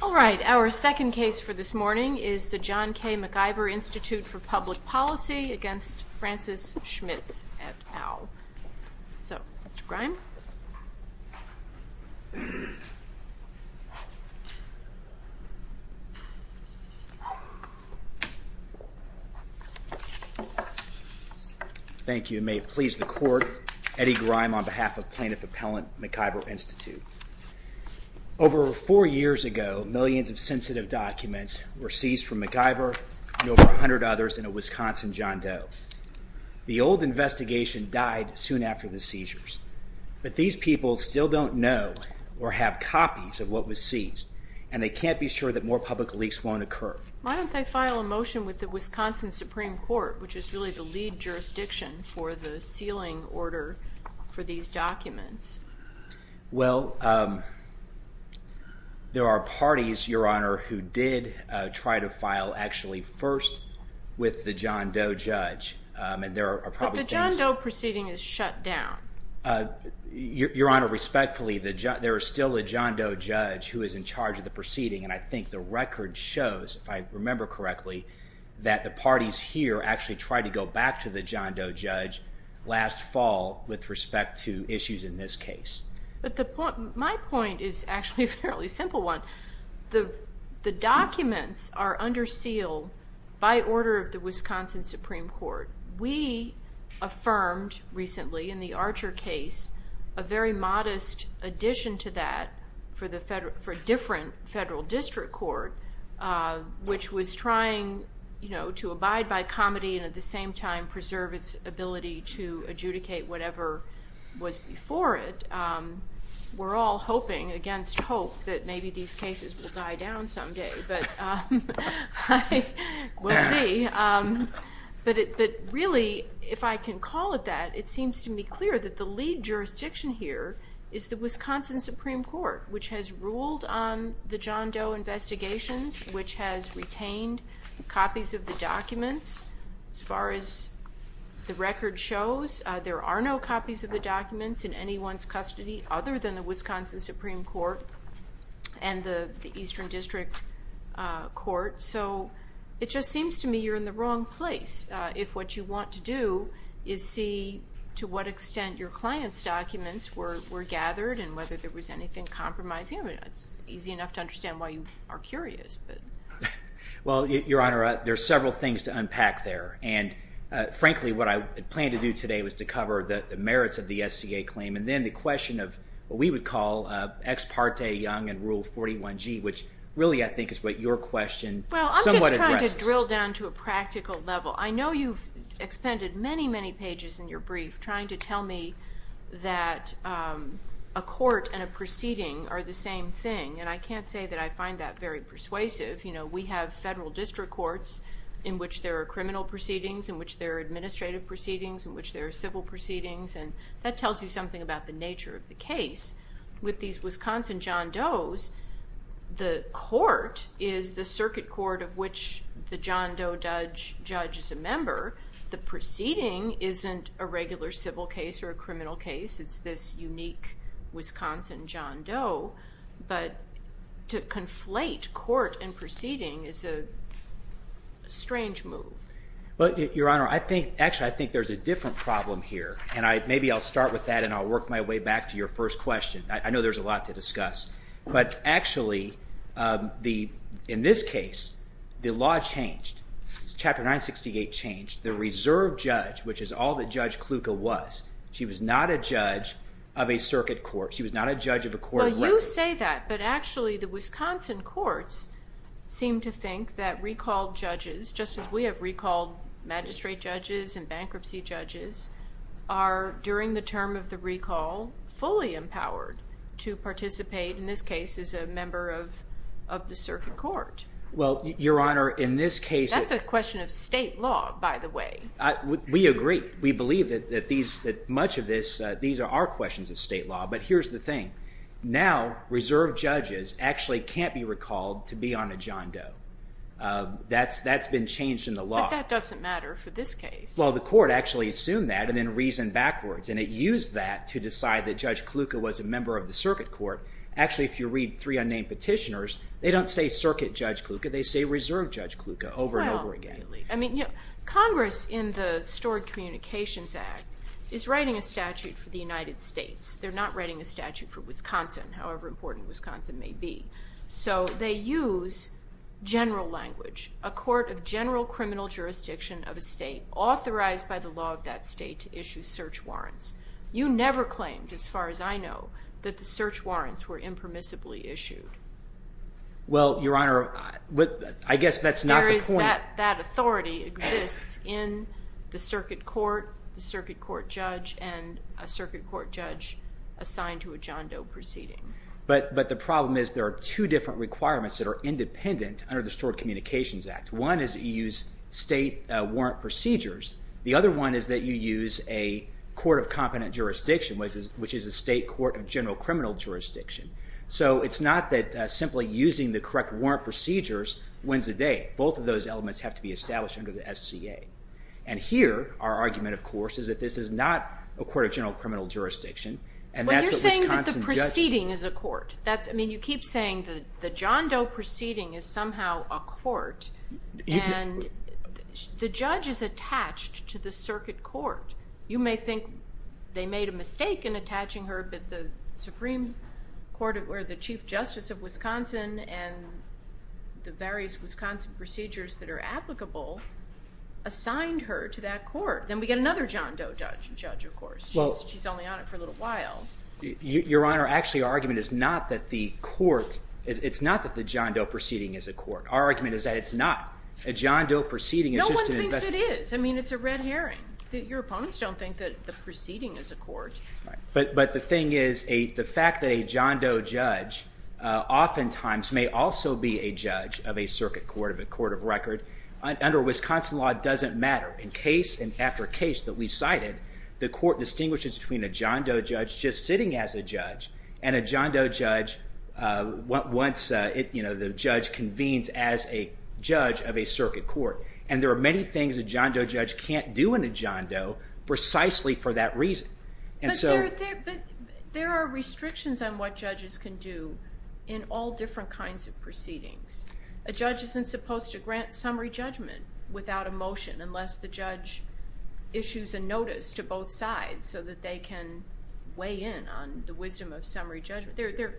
All right, our second case for this morning is the John K. MacIver Institute for Public Policy against Francis Schmitz et al. So, Mr. Grime. Thank you. May it please the Court, Eddie Grime on behalf of Plaintiff Appellant MacIver Institute. Over four years ago, millions of sensitive documents were seized from MacIver and over 100 others in a Wisconsin John Doe. The old investigation died soon after the seizures. But these people still don't know or have copies of what was seized, and they can't be sure that more public leaks won't occur. Why don't they file a motion with the Wisconsin Supreme Court, which is really the lead jurisdiction for the sealing order for these documents? Well, there are parties, Your Honor, who did try to file actually first with the John Doe judge. But the John Doe proceeding is shut down. Your Honor, respectfully, there is still a John Doe judge who is in charge of the proceeding, and I think the record shows, if I remember correctly, that the parties here actually tried to go back to the John Doe judge last fall with respect to issues in this case. But my point is actually a fairly simple one. The documents are under seal by order of the Wisconsin Supreme Court. We affirmed recently in the Archer case a very modest addition to that for different federal district court, which was trying to abide by comity and at the same time preserve its ability to adjudicate whatever was before it. We're all hoping against hope that maybe these cases will die down someday, but we'll see. But really, if I can call it that, it seems to me clear that the lead jurisdiction here is the Wisconsin Supreme Court, which has ruled on the John Doe investigations, which has retained copies of the documents. As far as the record shows, there are no copies of the documents in anyone's custody other than the Wisconsin Supreme Court and the Eastern District Court. So it just seems to me you're in the wrong place if what you want to do is see to what extent your client's documents were gathered and whether there was anything compromising. I mean, it's easy enough to understand why you are curious. Well, Your Honor, there are several things to unpack there. And frankly, what I planned to do today was to cover the merits of the SCA claim and then the question of what we would call Ex Parte Young and Rule 41G, which really I think is what your question somewhat addresses. Well, I'm just trying to drill down to a practical level. I know you've expended many, many pages in your brief trying to tell me that a court and a proceeding are the same thing. And I can't say that I find that very persuasive. We have federal district courts in which there are criminal proceedings, in which there are administrative proceedings, in which there are civil proceedings, and that tells you something about the nature of the case. With these Wisconsin John Does, the court is the circuit court of which the John Doe judge is a member. The proceeding isn't a regular civil case or a criminal case. It's this unique Wisconsin John Doe. But to conflate court and proceeding is a strange move. Well, Your Honor, actually, I think there's a different problem here. And maybe I'll start with that and I'll work my way back to your first question. I know there's a lot to discuss. But actually, in this case, the law changed. Chapter 968 changed. The reserve judge, which is all that Judge Kluka was, she was not a judge of a circuit court. She was not a judge of a court of records. Well, you say that, but actually the Wisconsin courts seem to think that recalled judges, just as we have recalled magistrate judges and bankruptcy judges, are, during the term of the recall, fully empowered to participate, in this case, as a member of the circuit court. Well, Your Honor, in this case... That's a question of state law, by the way. We agree. We believe that much of this, these are questions of state law. But here's the thing. Now, reserve judges actually can't be recalled to be on a John Doe. That's been changed in the law. But that doesn't matter for this case. Well, the court actually assumed that and then reasoned backwards. And it used that to decide that Judge Kluka was a member of the circuit court. Actually, if you read three unnamed petitioners, they don't say circuit Judge Kluka. They say reserve Judge Kluka over and over again. Well, I mean, Congress, in the Stored Communications Act, is writing a statute for the United States. They're not writing a statute for Wisconsin, however important Wisconsin may be. So they use general language. A court of general criminal jurisdiction of a state authorized by the law of that state to issue search warrants. You never claimed, as far as I know, that the search warrants were impermissibly issued. Well, Your Honor, I guess that's not the point. That authority exists in the circuit court, the circuit court judge, and a circuit court judge assigned to a John Doe proceeding. But the problem is there are two different requirements that are independent under the Stored Communications Act. One is that you use state warrant procedures. The other one is that you use a court of competent jurisdiction, which is a state court of general criminal jurisdiction. So it's not that simply using the correct warrant procedures wins the day. Both of those elements have to be established under the SCA. And here, our argument, of course, is that this is not a court of general criminal jurisdiction. Well, you're saying that the proceeding is a court. I mean, you keep saying the John Doe proceeding is somehow a court, and the judge is attached to the circuit court. You may think they made a mistake in attaching her, but the Supreme Court or the Chief Justice of Wisconsin and the various Wisconsin procedures that are applicable assigned her to that court. Then we get another John Doe judge, of course. She's only on it for a little while. Your Honor, actually, our argument is not that the court—it's not that the John Doe proceeding is a court. Our argument is that it's not. A John Doe proceeding is just an investigation. No one thinks it is. I mean, it's a red herring. Your opponents don't think that the proceeding is a court. But the thing is, the fact that a John Doe judge oftentimes may also be a judge of a circuit court, of a court of record, under Wisconsin law doesn't matter. In case and after case that we cited, the court distinguishes between a John Doe judge just sitting as a judge and a John Doe judge once the judge convenes as a judge of a circuit court. And there are many things a John Doe judge can't do in a John Doe precisely for that reason. But there are restrictions on what judges can do in all different kinds of proceedings. A judge isn't supposed to grant summary judgment without a motion unless the judge issues a notice to both sides so that they can weigh in on the wisdom of summary judgment. There are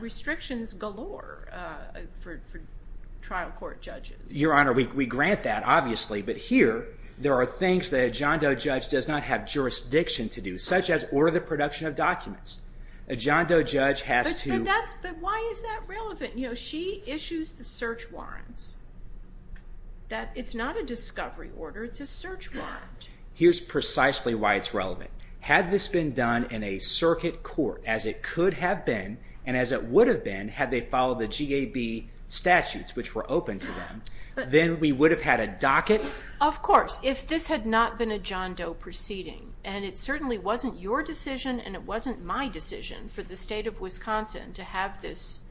restrictions galore for trial court judges. Your Honor, we grant that, obviously. But here, there are things that a John Doe judge does not have jurisdiction to do, such as order the production of documents. A John Doe judge has to... But why is that relevant? You know, she issues the search warrants. It's not a discovery order. It's a search warrant. Here's precisely why it's relevant. Had this been done in a circuit court as it could have been and as it would have been had they followed the GAB statutes, which were open to them, then we would have had a docket. Of course. If this had not been a John Doe proceeding, and it certainly wasn't your decision and it wasn't my decision for the state of Wisconsin to have this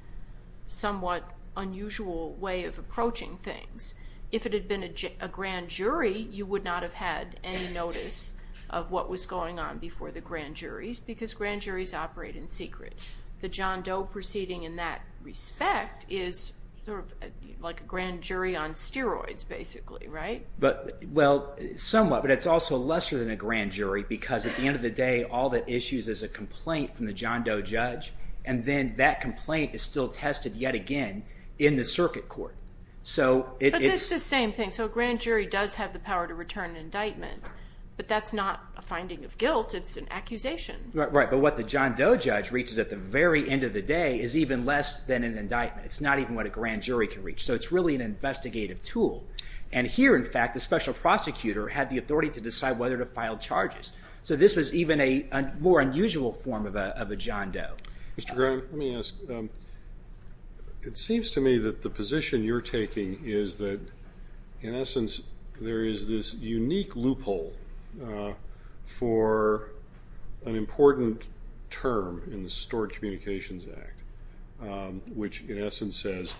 somewhat unusual way of approaching things, if it had been a grand jury, you would not have had any notice of what was going on before the grand juries because grand juries operate in secret. The John Doe proceeding in that respect is like a grand jury on steroids, basically, right? Well, somewhat, but it's also lesser than a grand jury because at the end of the day, all that issues is a complaint from the John Doe judge, and then that complaint is still tested yet again in the circuit court. But it's the same thing. So a grand jury does have the power to return an indictment, but that's not a finding of guilt. It's an accusation. Right, but what the John Doe judge reaches at the very end of the day is even less than an indictment. It's not even what a grand jury can reach. So it's really an investigative tool. And here, in fact, the special prosecutor had the authority to decide whether to file charges. So this was even a more unusual form of a John Doe. Mr. Graham, let me ask. It seems to me that the position you're taking is that, in essence, there is this unique loophole for an important term in the Stored Communications Act, which, in essence, says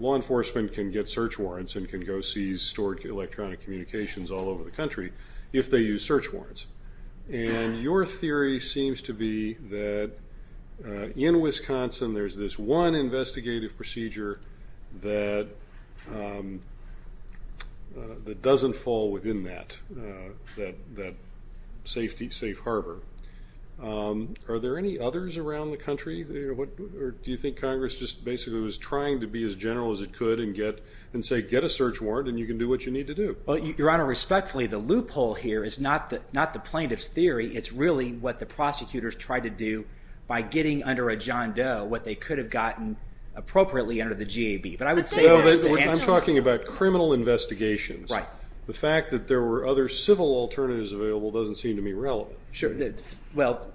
law enforcement can get search warrants and can go seize stored electronic communications all over the country if they use search warrants. And your theory seems to be that, in Wisconsin, there's this one investigative procedure that doesn't fall within that safe harbor. Are there any others around the country? Or do you think Congress just basically was trying to be as general as it could and say, get a search warrant and you can do what you need to do? Your Honor, respectfully, the loophole here is not the plaintiff's theory. It's really what the prosecutors tried to do by getting under a John Doe what they could have gotten appropriately under the GAB. But I would say this. I'm talking about criminal investigations. Right. The fact that there were other civil alternatives available doesn't seem to me relevant. Well,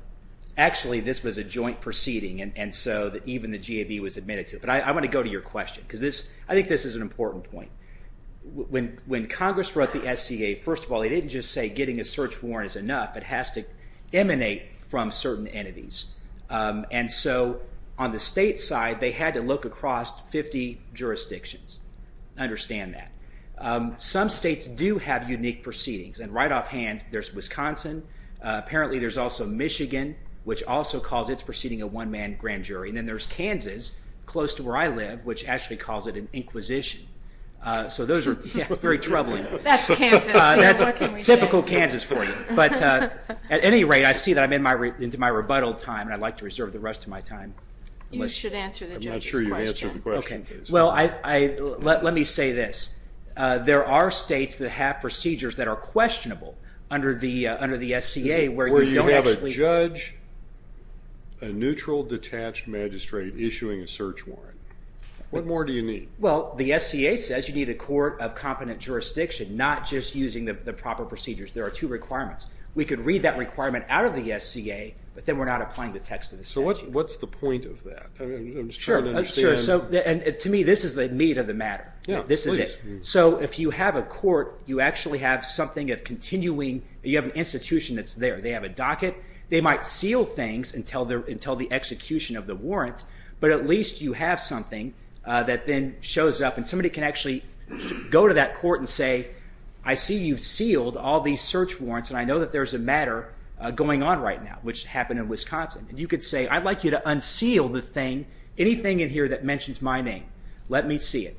actually, this was a joint proceeding, and so even the GAB was admitted to it. But I want to go to your question, because I think this is an important point. When Congress wrote the SCA, first of all, they didn't just say getting a search warrant is enough. It has to emanate from certain entities. And so on the state side, they had to look across 50 jurisdictions. Understand that. Some states do have unique proceedings. And right offhand, there's Wisconsin. Apparently there's also Michigan, which also calls its proceeding a one-man grand jury. And then there's Kansas, close to where I live, which actually calls it an inquisition. So those are very troubling. That's Kansas. That's typical Kansas for you. But at any rate, I see that I'm into my rebuttal time, and I'd like to reserve the rest of my time. You should answer the judge's question. I'm not sure you answered the question. Okay. Well, let me say this. There are states that have procedures that are questionable under the SCA. Where you have a judge, a neutral, detached magistrate issuing a search warrant. What more do you need? Well, the SCA says you need a court of competent jurisdiction, not just using the proper procedures. There are two requirements. We could read that requirement out of the SCA, but then we're not applying the text of the statute. So what's the point of that? I'm just trying to understand. Sure, sure. And to me, this is the meat of the matter. This is it. So if you have a court, you actually have something of continuing. You have an institution that's there. They have a docket. They might seal things until the execution of the warrant, but at least you have something that then shows up, and somebody can actually go to that court and say, I see you've sealed all these search warrants, and I know that there's a matter going on right now, which happened in Wisconsin. And you could say, I'd like you to unseal the thing, anything in here that mentions my name. Let me see it.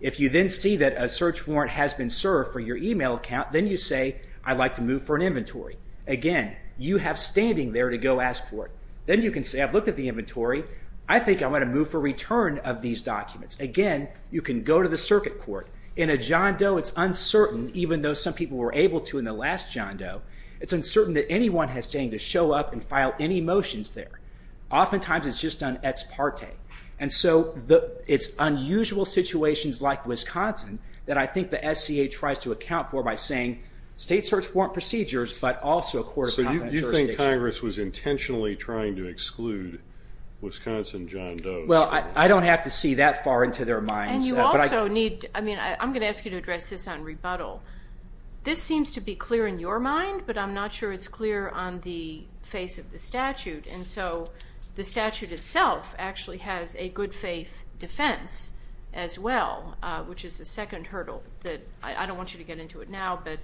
If you then see that a search warrant has been served for your e-mail account, then you say, I'd like to move for an inventory. Again, you have standing there to go ask for it. Then you can say, I've looked at the inventory. I think I want to move for return of these documents. Again, you can go to the circuit court. In a John Doe, it's uncertain, even though some people were able to in the last John Doe, it's uncertain that anyone has standing to show up and file any motions there. Oftentimes it's just an ex parte. And so it's unusual situations like Wisconsin that I think the SCA tries to account for by saying, state search warrant procedures, but also court of comment jurisdiction. So you think Congress was intentionally trying to exclude Wisconsin John Doe? Well, I don't have to see that far into their minds. And you also need, I mean, I'm going to ask you to address this on rebuttal. This seems to be clear in your mind, but I'm not sure it's clear on the face of the statute. And so the statute itself actually has a good faith defense as well, which is the second hurdle that I don't want you to get into it now, but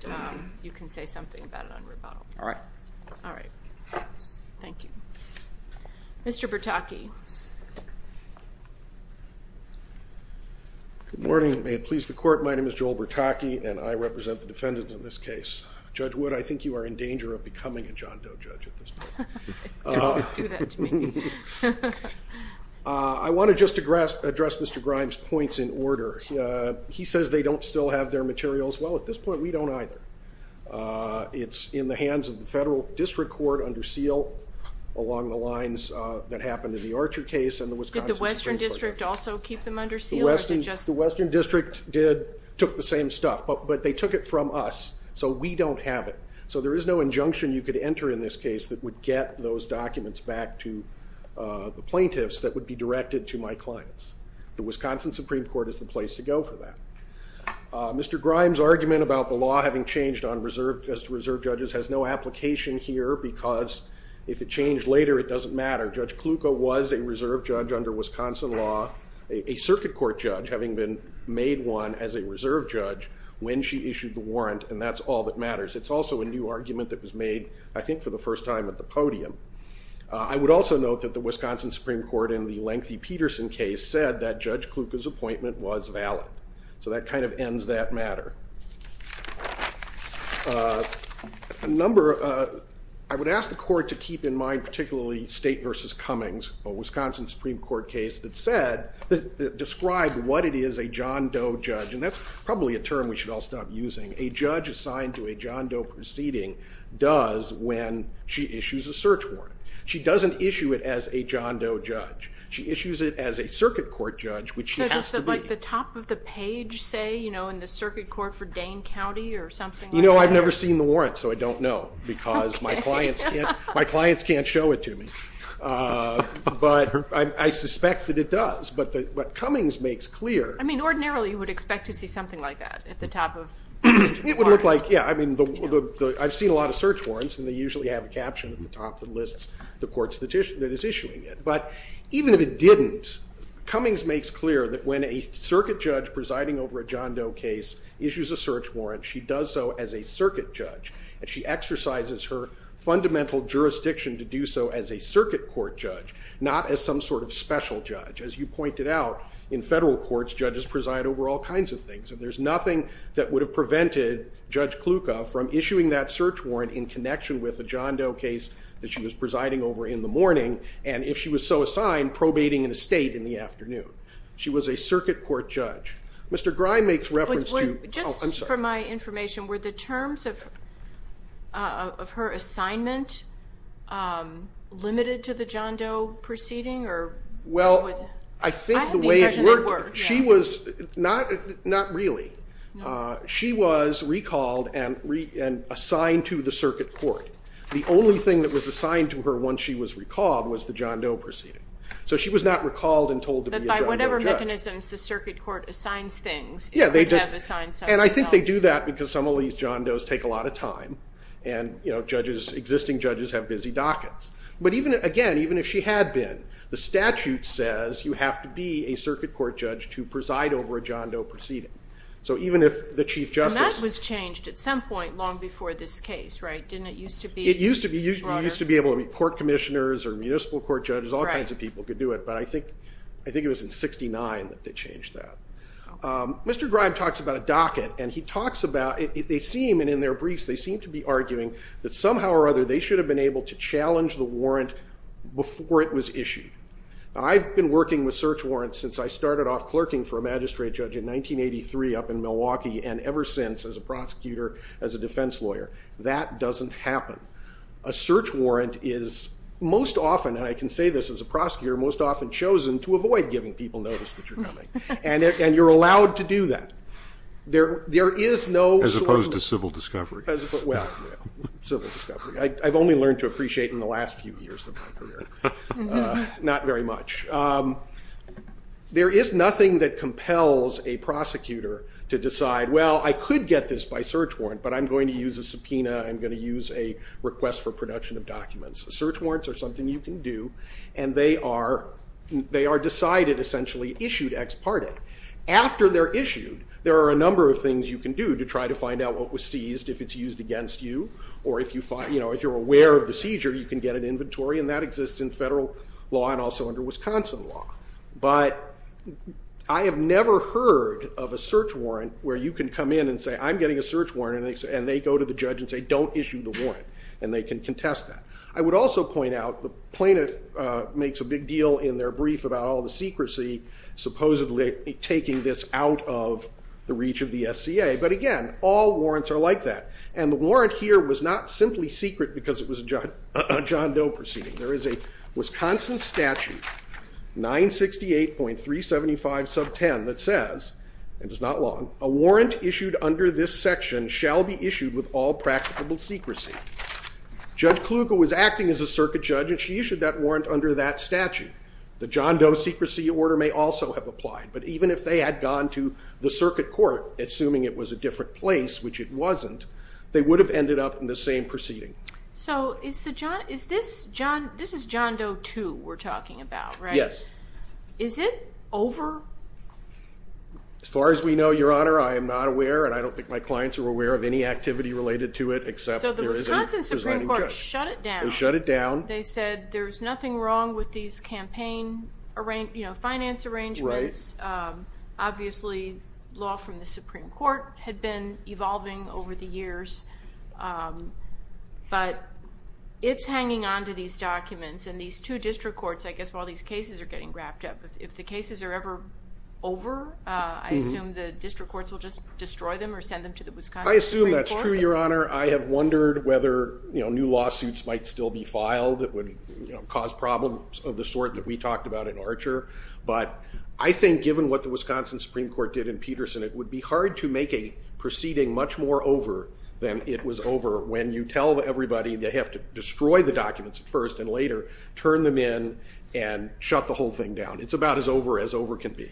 you can say something about it on rebuttal. All right. All right. Thank you. Mr. Bertocchi. Good morning. May it please the court, my name is Joel Bertocchi, and I represent the defendants in this case. Judge Wood, I think you are in danger of becoming a John Doe judge at this point. Don't do that to me. I want to just address Mr. Grimes' points in order. He says they don't still have their materials. Well, at this point we don't either. It's in the hands of the federal district court under seal along the lines that happened in the Archer case and the Wisconsin Supreme Court. Did the Western District also keep them under seal? The Western District took the same stuff, but they took it from us, so we don't have it. So there is no injunction you could enter in this case that would get those plaintiffs that would be directed to my clients. The Wisconsin Supreme Court is the place to go for that. Mr. Grimes' argument about the law having changed on reserve judges has no application here because if it changed later, it doesn't matter. Judge Kluka was a reserve judge under Wisconsin law, a circuit court judge having been made one as a reserve judge when she issued the warrant, and that's all that matters. It's also a new argument that was made, I think, for the first time at the podium. I would also note that the Wisconsin Supreme Court in the lengthy Peterson case said that Judge Kluka's appointment was valid, so that kind of ends that matter. I would ask the court to keep in mind particularly State v. Cummings, a Wisconsin Supreme Court case that said, described what it is a John Doe judge, and that's probably a term we should all stop using. A judge assigned to a John Doe proceeding does when she issues a search warrant. She doesn't issue it as a John Doe judge. She issues it as a circuit court judge, which she has to be. So does the top of the page say, you know, in the circuit court for Dane County or something like that? You know, I've never seen the warrant, so I don't know because my clients can't show it to me. But I suspect that it does. But Cummings makes clear. I mean, ordinarily, you would expect to see something like that at the top of the page of the warrant. It would look like, yeah. I mean, I've seen a lot of search warrants, and they usually have a caption at the top that lists the courts that is issuing it. But even if it didn't, Cummings makes clear that when a circuit judge presiding over a John Doe case issues a search warrant, she does so as a circuit judge, and she exercises her fundamental jurisdiction to do so as a circuit court judge, not as some sort of special judge. As you pointed out, in federal courts, judges preside over all kinds of things, and there's nothing that would have prevented Judge Kluka from issuing that search warrant in connection with a John Doe case that she was presiding over in the morning, and if she was so assigned, probating in a state in the afternoon. She was a circuit court judge. Mr. Grime makes reference to – Just for my information, were the terms of her assignment limited to the John Doe proceeding? Well, I think the way it worked, she was – not really. She was recalled and assigned to the circuit court. The only thing that was assigned to her once she was recalled was the John Doe proceeding. So she was not recalled and told to be a John Doe judge. But by whatever mechanisms the circuit court assigns things, it could have assigned something else. And I think they do that because some of these John Does take a lot of time, and existing judges have busy dockets. But again, even if she had been, the statute says you have to be a circuit court judge to preside over a John Doe proceeding. So even if the Chief Justice – And that was changed at some point long before this case, right? Didn't it used to be – It used to be. You used to be able to be court commissioners or municipal court judges. All kinds of people could do it. But I think it was in 1969 that they changed that. Mr. Grime talks about a docket, and he talks about – they seem, and in their briefs, they seem to be arguing that somehow or other they should have been able to challenge the warrant before it was issued. I've been working with search warrants since I started off clerking for a magistrate judge in 1983 up in Milwaukee, and ever since as a prosecutor, as a defense lawyer. That doesn't happen. A search warrant is most often – and I can say this as a prosecutor – most often chosen to avoid giving people notice that you're coming. And you're allowed to do that. There is no – As opposed to civil discovery. Well, civil discovery. I've only learned to appreciate in the last few years of my career. Not very much. There is nothing that compels a prosecutor to decide, well, I could get this by search warrant, but I'm going to use a subpoena. I'm going to use a request for production of documents. Search warrants are something you can do, and they are decided, essentially, issued ex parte. After they're issued, there are a number of things you can do to try to find out what was seized, if it's used against you. Or if you're aware of the seizure, you can get an inventory, and that exists in federal law and also under Wisconsin law. But I have never heard of a search warrant where you can come in and say, I'm getting a search warrant, and they go to the judge and say, don't issue the warrant, and they can contest that. I would also point out the plaintiff makes a big deal in their brief about all the secrecy supposedly taking this out of the reach of the SCA. But again, all warrants are like that. And the warrant here was not simply secret because it was a John Doe proceeding. There is a Wisconsin statute, 968.375 sub 10, that says, and it's not long, a warrant issued under this section shall be issued with all practicable secrecy. Judge Kluge was acting as a circuit judge, and she issued that warrant under that statute. The John Doe secrecy order may also have applied, but even if they had gone to the circuit court, assuming it was a different place, which it wasn't, they would have ended up in the same proceeding. So this is John Doe 2 we're talking about, right? Yes. Is it over? As far as we know, Your Honor, I am not aware, and I don't think my clients are aware of any activity related to it, except there is a designing judge. So the Wisconsin Supreme Court shut it down. They shut it down. They said there's nothing wrong with these campaign finance arrangements. Obviously, law from the Supreme Court had been evolving over the years, but it's hanging on to these documents, and these two district courts, I guess, while these cases are getting wrapped up, if the cases are ever over, I assume the district courts will just destroy them or send them to the Wisconsin Supreme Court. I assume that's true, Your Honor. I have wondered whether new lawsuits might still be filed that would cause problems of the sort that we talked about in Archer, but I think given what the Wisconsin Supreme Court did in Peterson, it would be hard to make a proceeding much more over than it was over when you tell everybody they have to destroy the documents first and later turn them in and shut the whole thing down. It's about as over as over can be.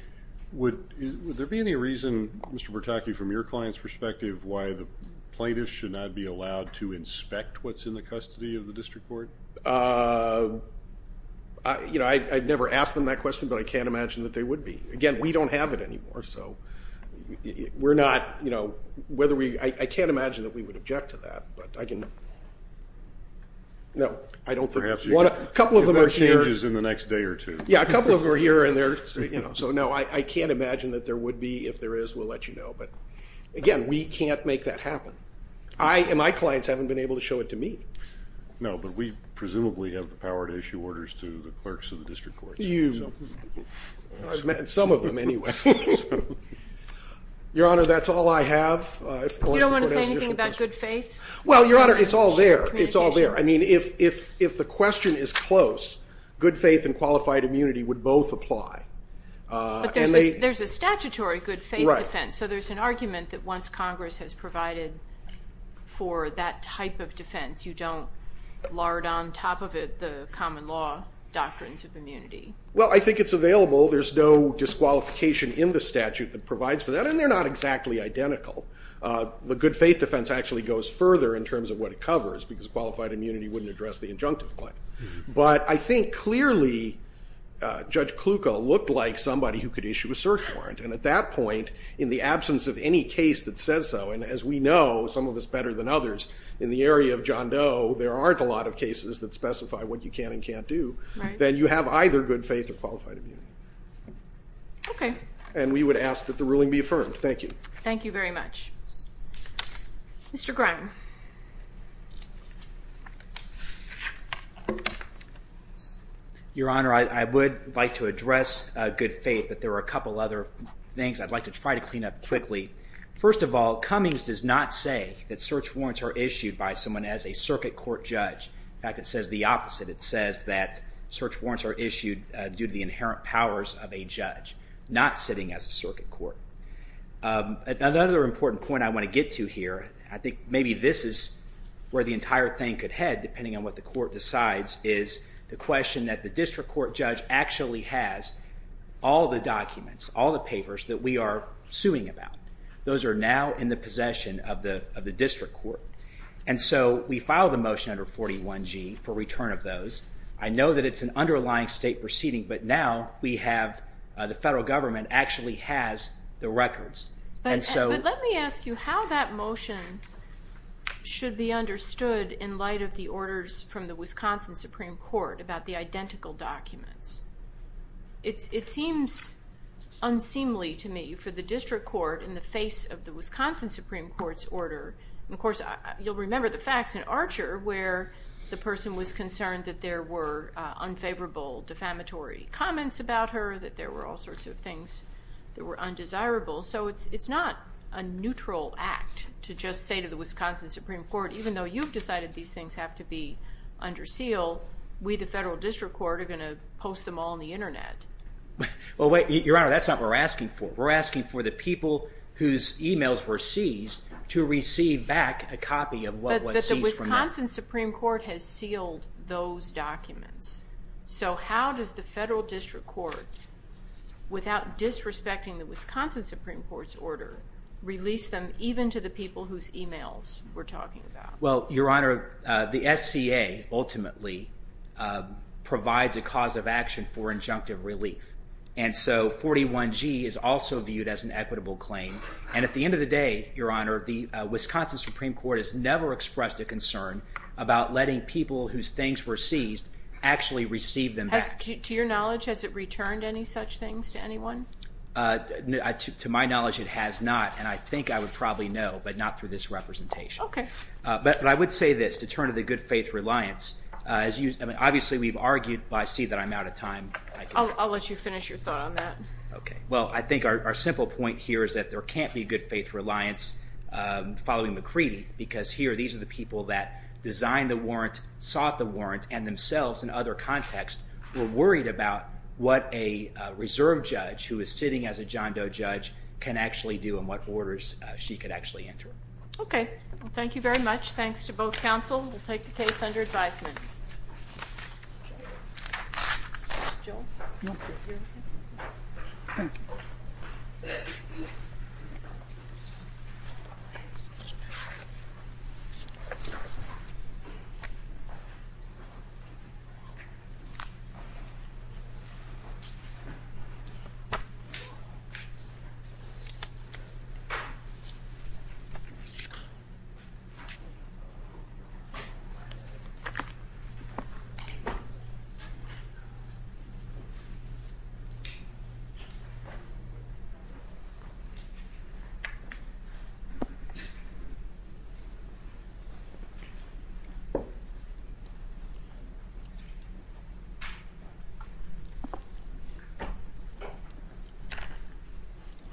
Would there be any reason, Mr. Bertocchi, from your client's perspective, why the plaintiffs should not be allowed to inspect what's in the custody of the district court? I've never asked them that question, but I can't imagine that they would be. Again, we don't have it anymore, so I can't imagine that we would object to that. Perhaps if there are changes in the next day or two. Yeah, a couple of them are here, so no, I can't imagine that there would be. If there is, we'll let you know, but again, we can't make that happen. My clients haven't been able to show it to me. No, but we presumably have the power to issue orders to the clerks of the district courts. I've met some of them anyway. Your Honor, that's all I have. You don't want to say anything about good faith? Well, Your Honor, it's all there. I mean, if the question is close, good faith and qualified immunity would both apply. But there's a statutory good faith defense, so there's an argument that once Congress has provided for that type of defense, you don't lard on top of it the common law doctrines of immunity. Well, I think it's available. There's no disqualification in the statute that provides for that, and they're not exactly identical. The good faith defense actually goes further in terms of what it covers, because qualified immunity wouldn't address the injunctive claim. But I think clearly Judge Kluka looked like somebody who could issue a search warrant, and at that point, in the absence of any case that says so, and as we know, some of us better than others, in the area of John Doe, there aren't a lot of cases that specify what you can and can't do, then you have either good faith or qualified immunity. Okay. And we would ask that the ruling be affirmed. Thank you. Thank you very much. Mr. Grime. Your Honor, I would like to address good faith, but there are a couple other things I'd like to try to clean up quickly. First of all, Cummings does not say that search warrants are issued by someone as a circuit court judge. In fact, it says the opposite. It says that search warrants are issued due to the inherent powers of a judge, not sitting as a circuit court. Another important point I want to get to here, I think maybe this is where the entire thing could head, depending on what the court decides, is the question that the district court judge actually has all the documents, all the papers that we are suing about. Those are now in the possession of the district court. And so we filed a motion under 41G for return of those. I know that it's an underlying state proceeding, but now we have the federal government actually has the records. But let me ask you how that motion should be understood in light of the orders from the Wisconsin Supreme Court about the identical documents. It seems unseemly to me for the district court in the face of the Wisconsin Supreme Court's order, and of course you'll remember the facts in Archer where the person was concerned that there were unfavorable defamatory comments about her, that there were all sorts of things that were undesirable. So it's not a neutral act to just say to the Wisconsin Supreme Court, even though you've decided these things have to be under seal, we, the federal district court, are going to post them all on the Internet. Well, wait, Your Honor, that's not what we're asking for. We're asking for the people whose emails were seized to receive back a copy of what was seized from them. But the Wisconsin Supreme Court has sealed those documents. So how does the federal district court, without disrespecting the Wisconsin Supreme Court's order, release them even to the people whose emails we're talking about? Well, Your Honor, the SCA ultimately provides a cause of action for injunctive relief. And so 41G is also viewed as an equitable claim. And at the end of the day, Your Honor, the Wisconsin Supreme Court has never expressed a concern about letting people whose things were seized actually receive them back. To your knowledge, has it returned any such things to anyone? To my knowledge, it has not. And I think I would probably know, but not through this representation. Okay. But I would say this. To turn to the good-faith reliance, obviously we've argued, but I see that I'm out of time. I'll let you finish your thought on that. Okay. Well, I think our simple point here is that there can't be good-faith reliance following McCready, because here these are the people that designed the warrant, sought the warrant, and themselves in other contexts were worried about what a reserve judge who is sitting as a John Doe judge can actually do and what orders she could actually enter. Okay. Well, thank you very much. Thanks to both counsel. We'll take the case under advisement. Joe? Joe? No. Thank you. Thank you.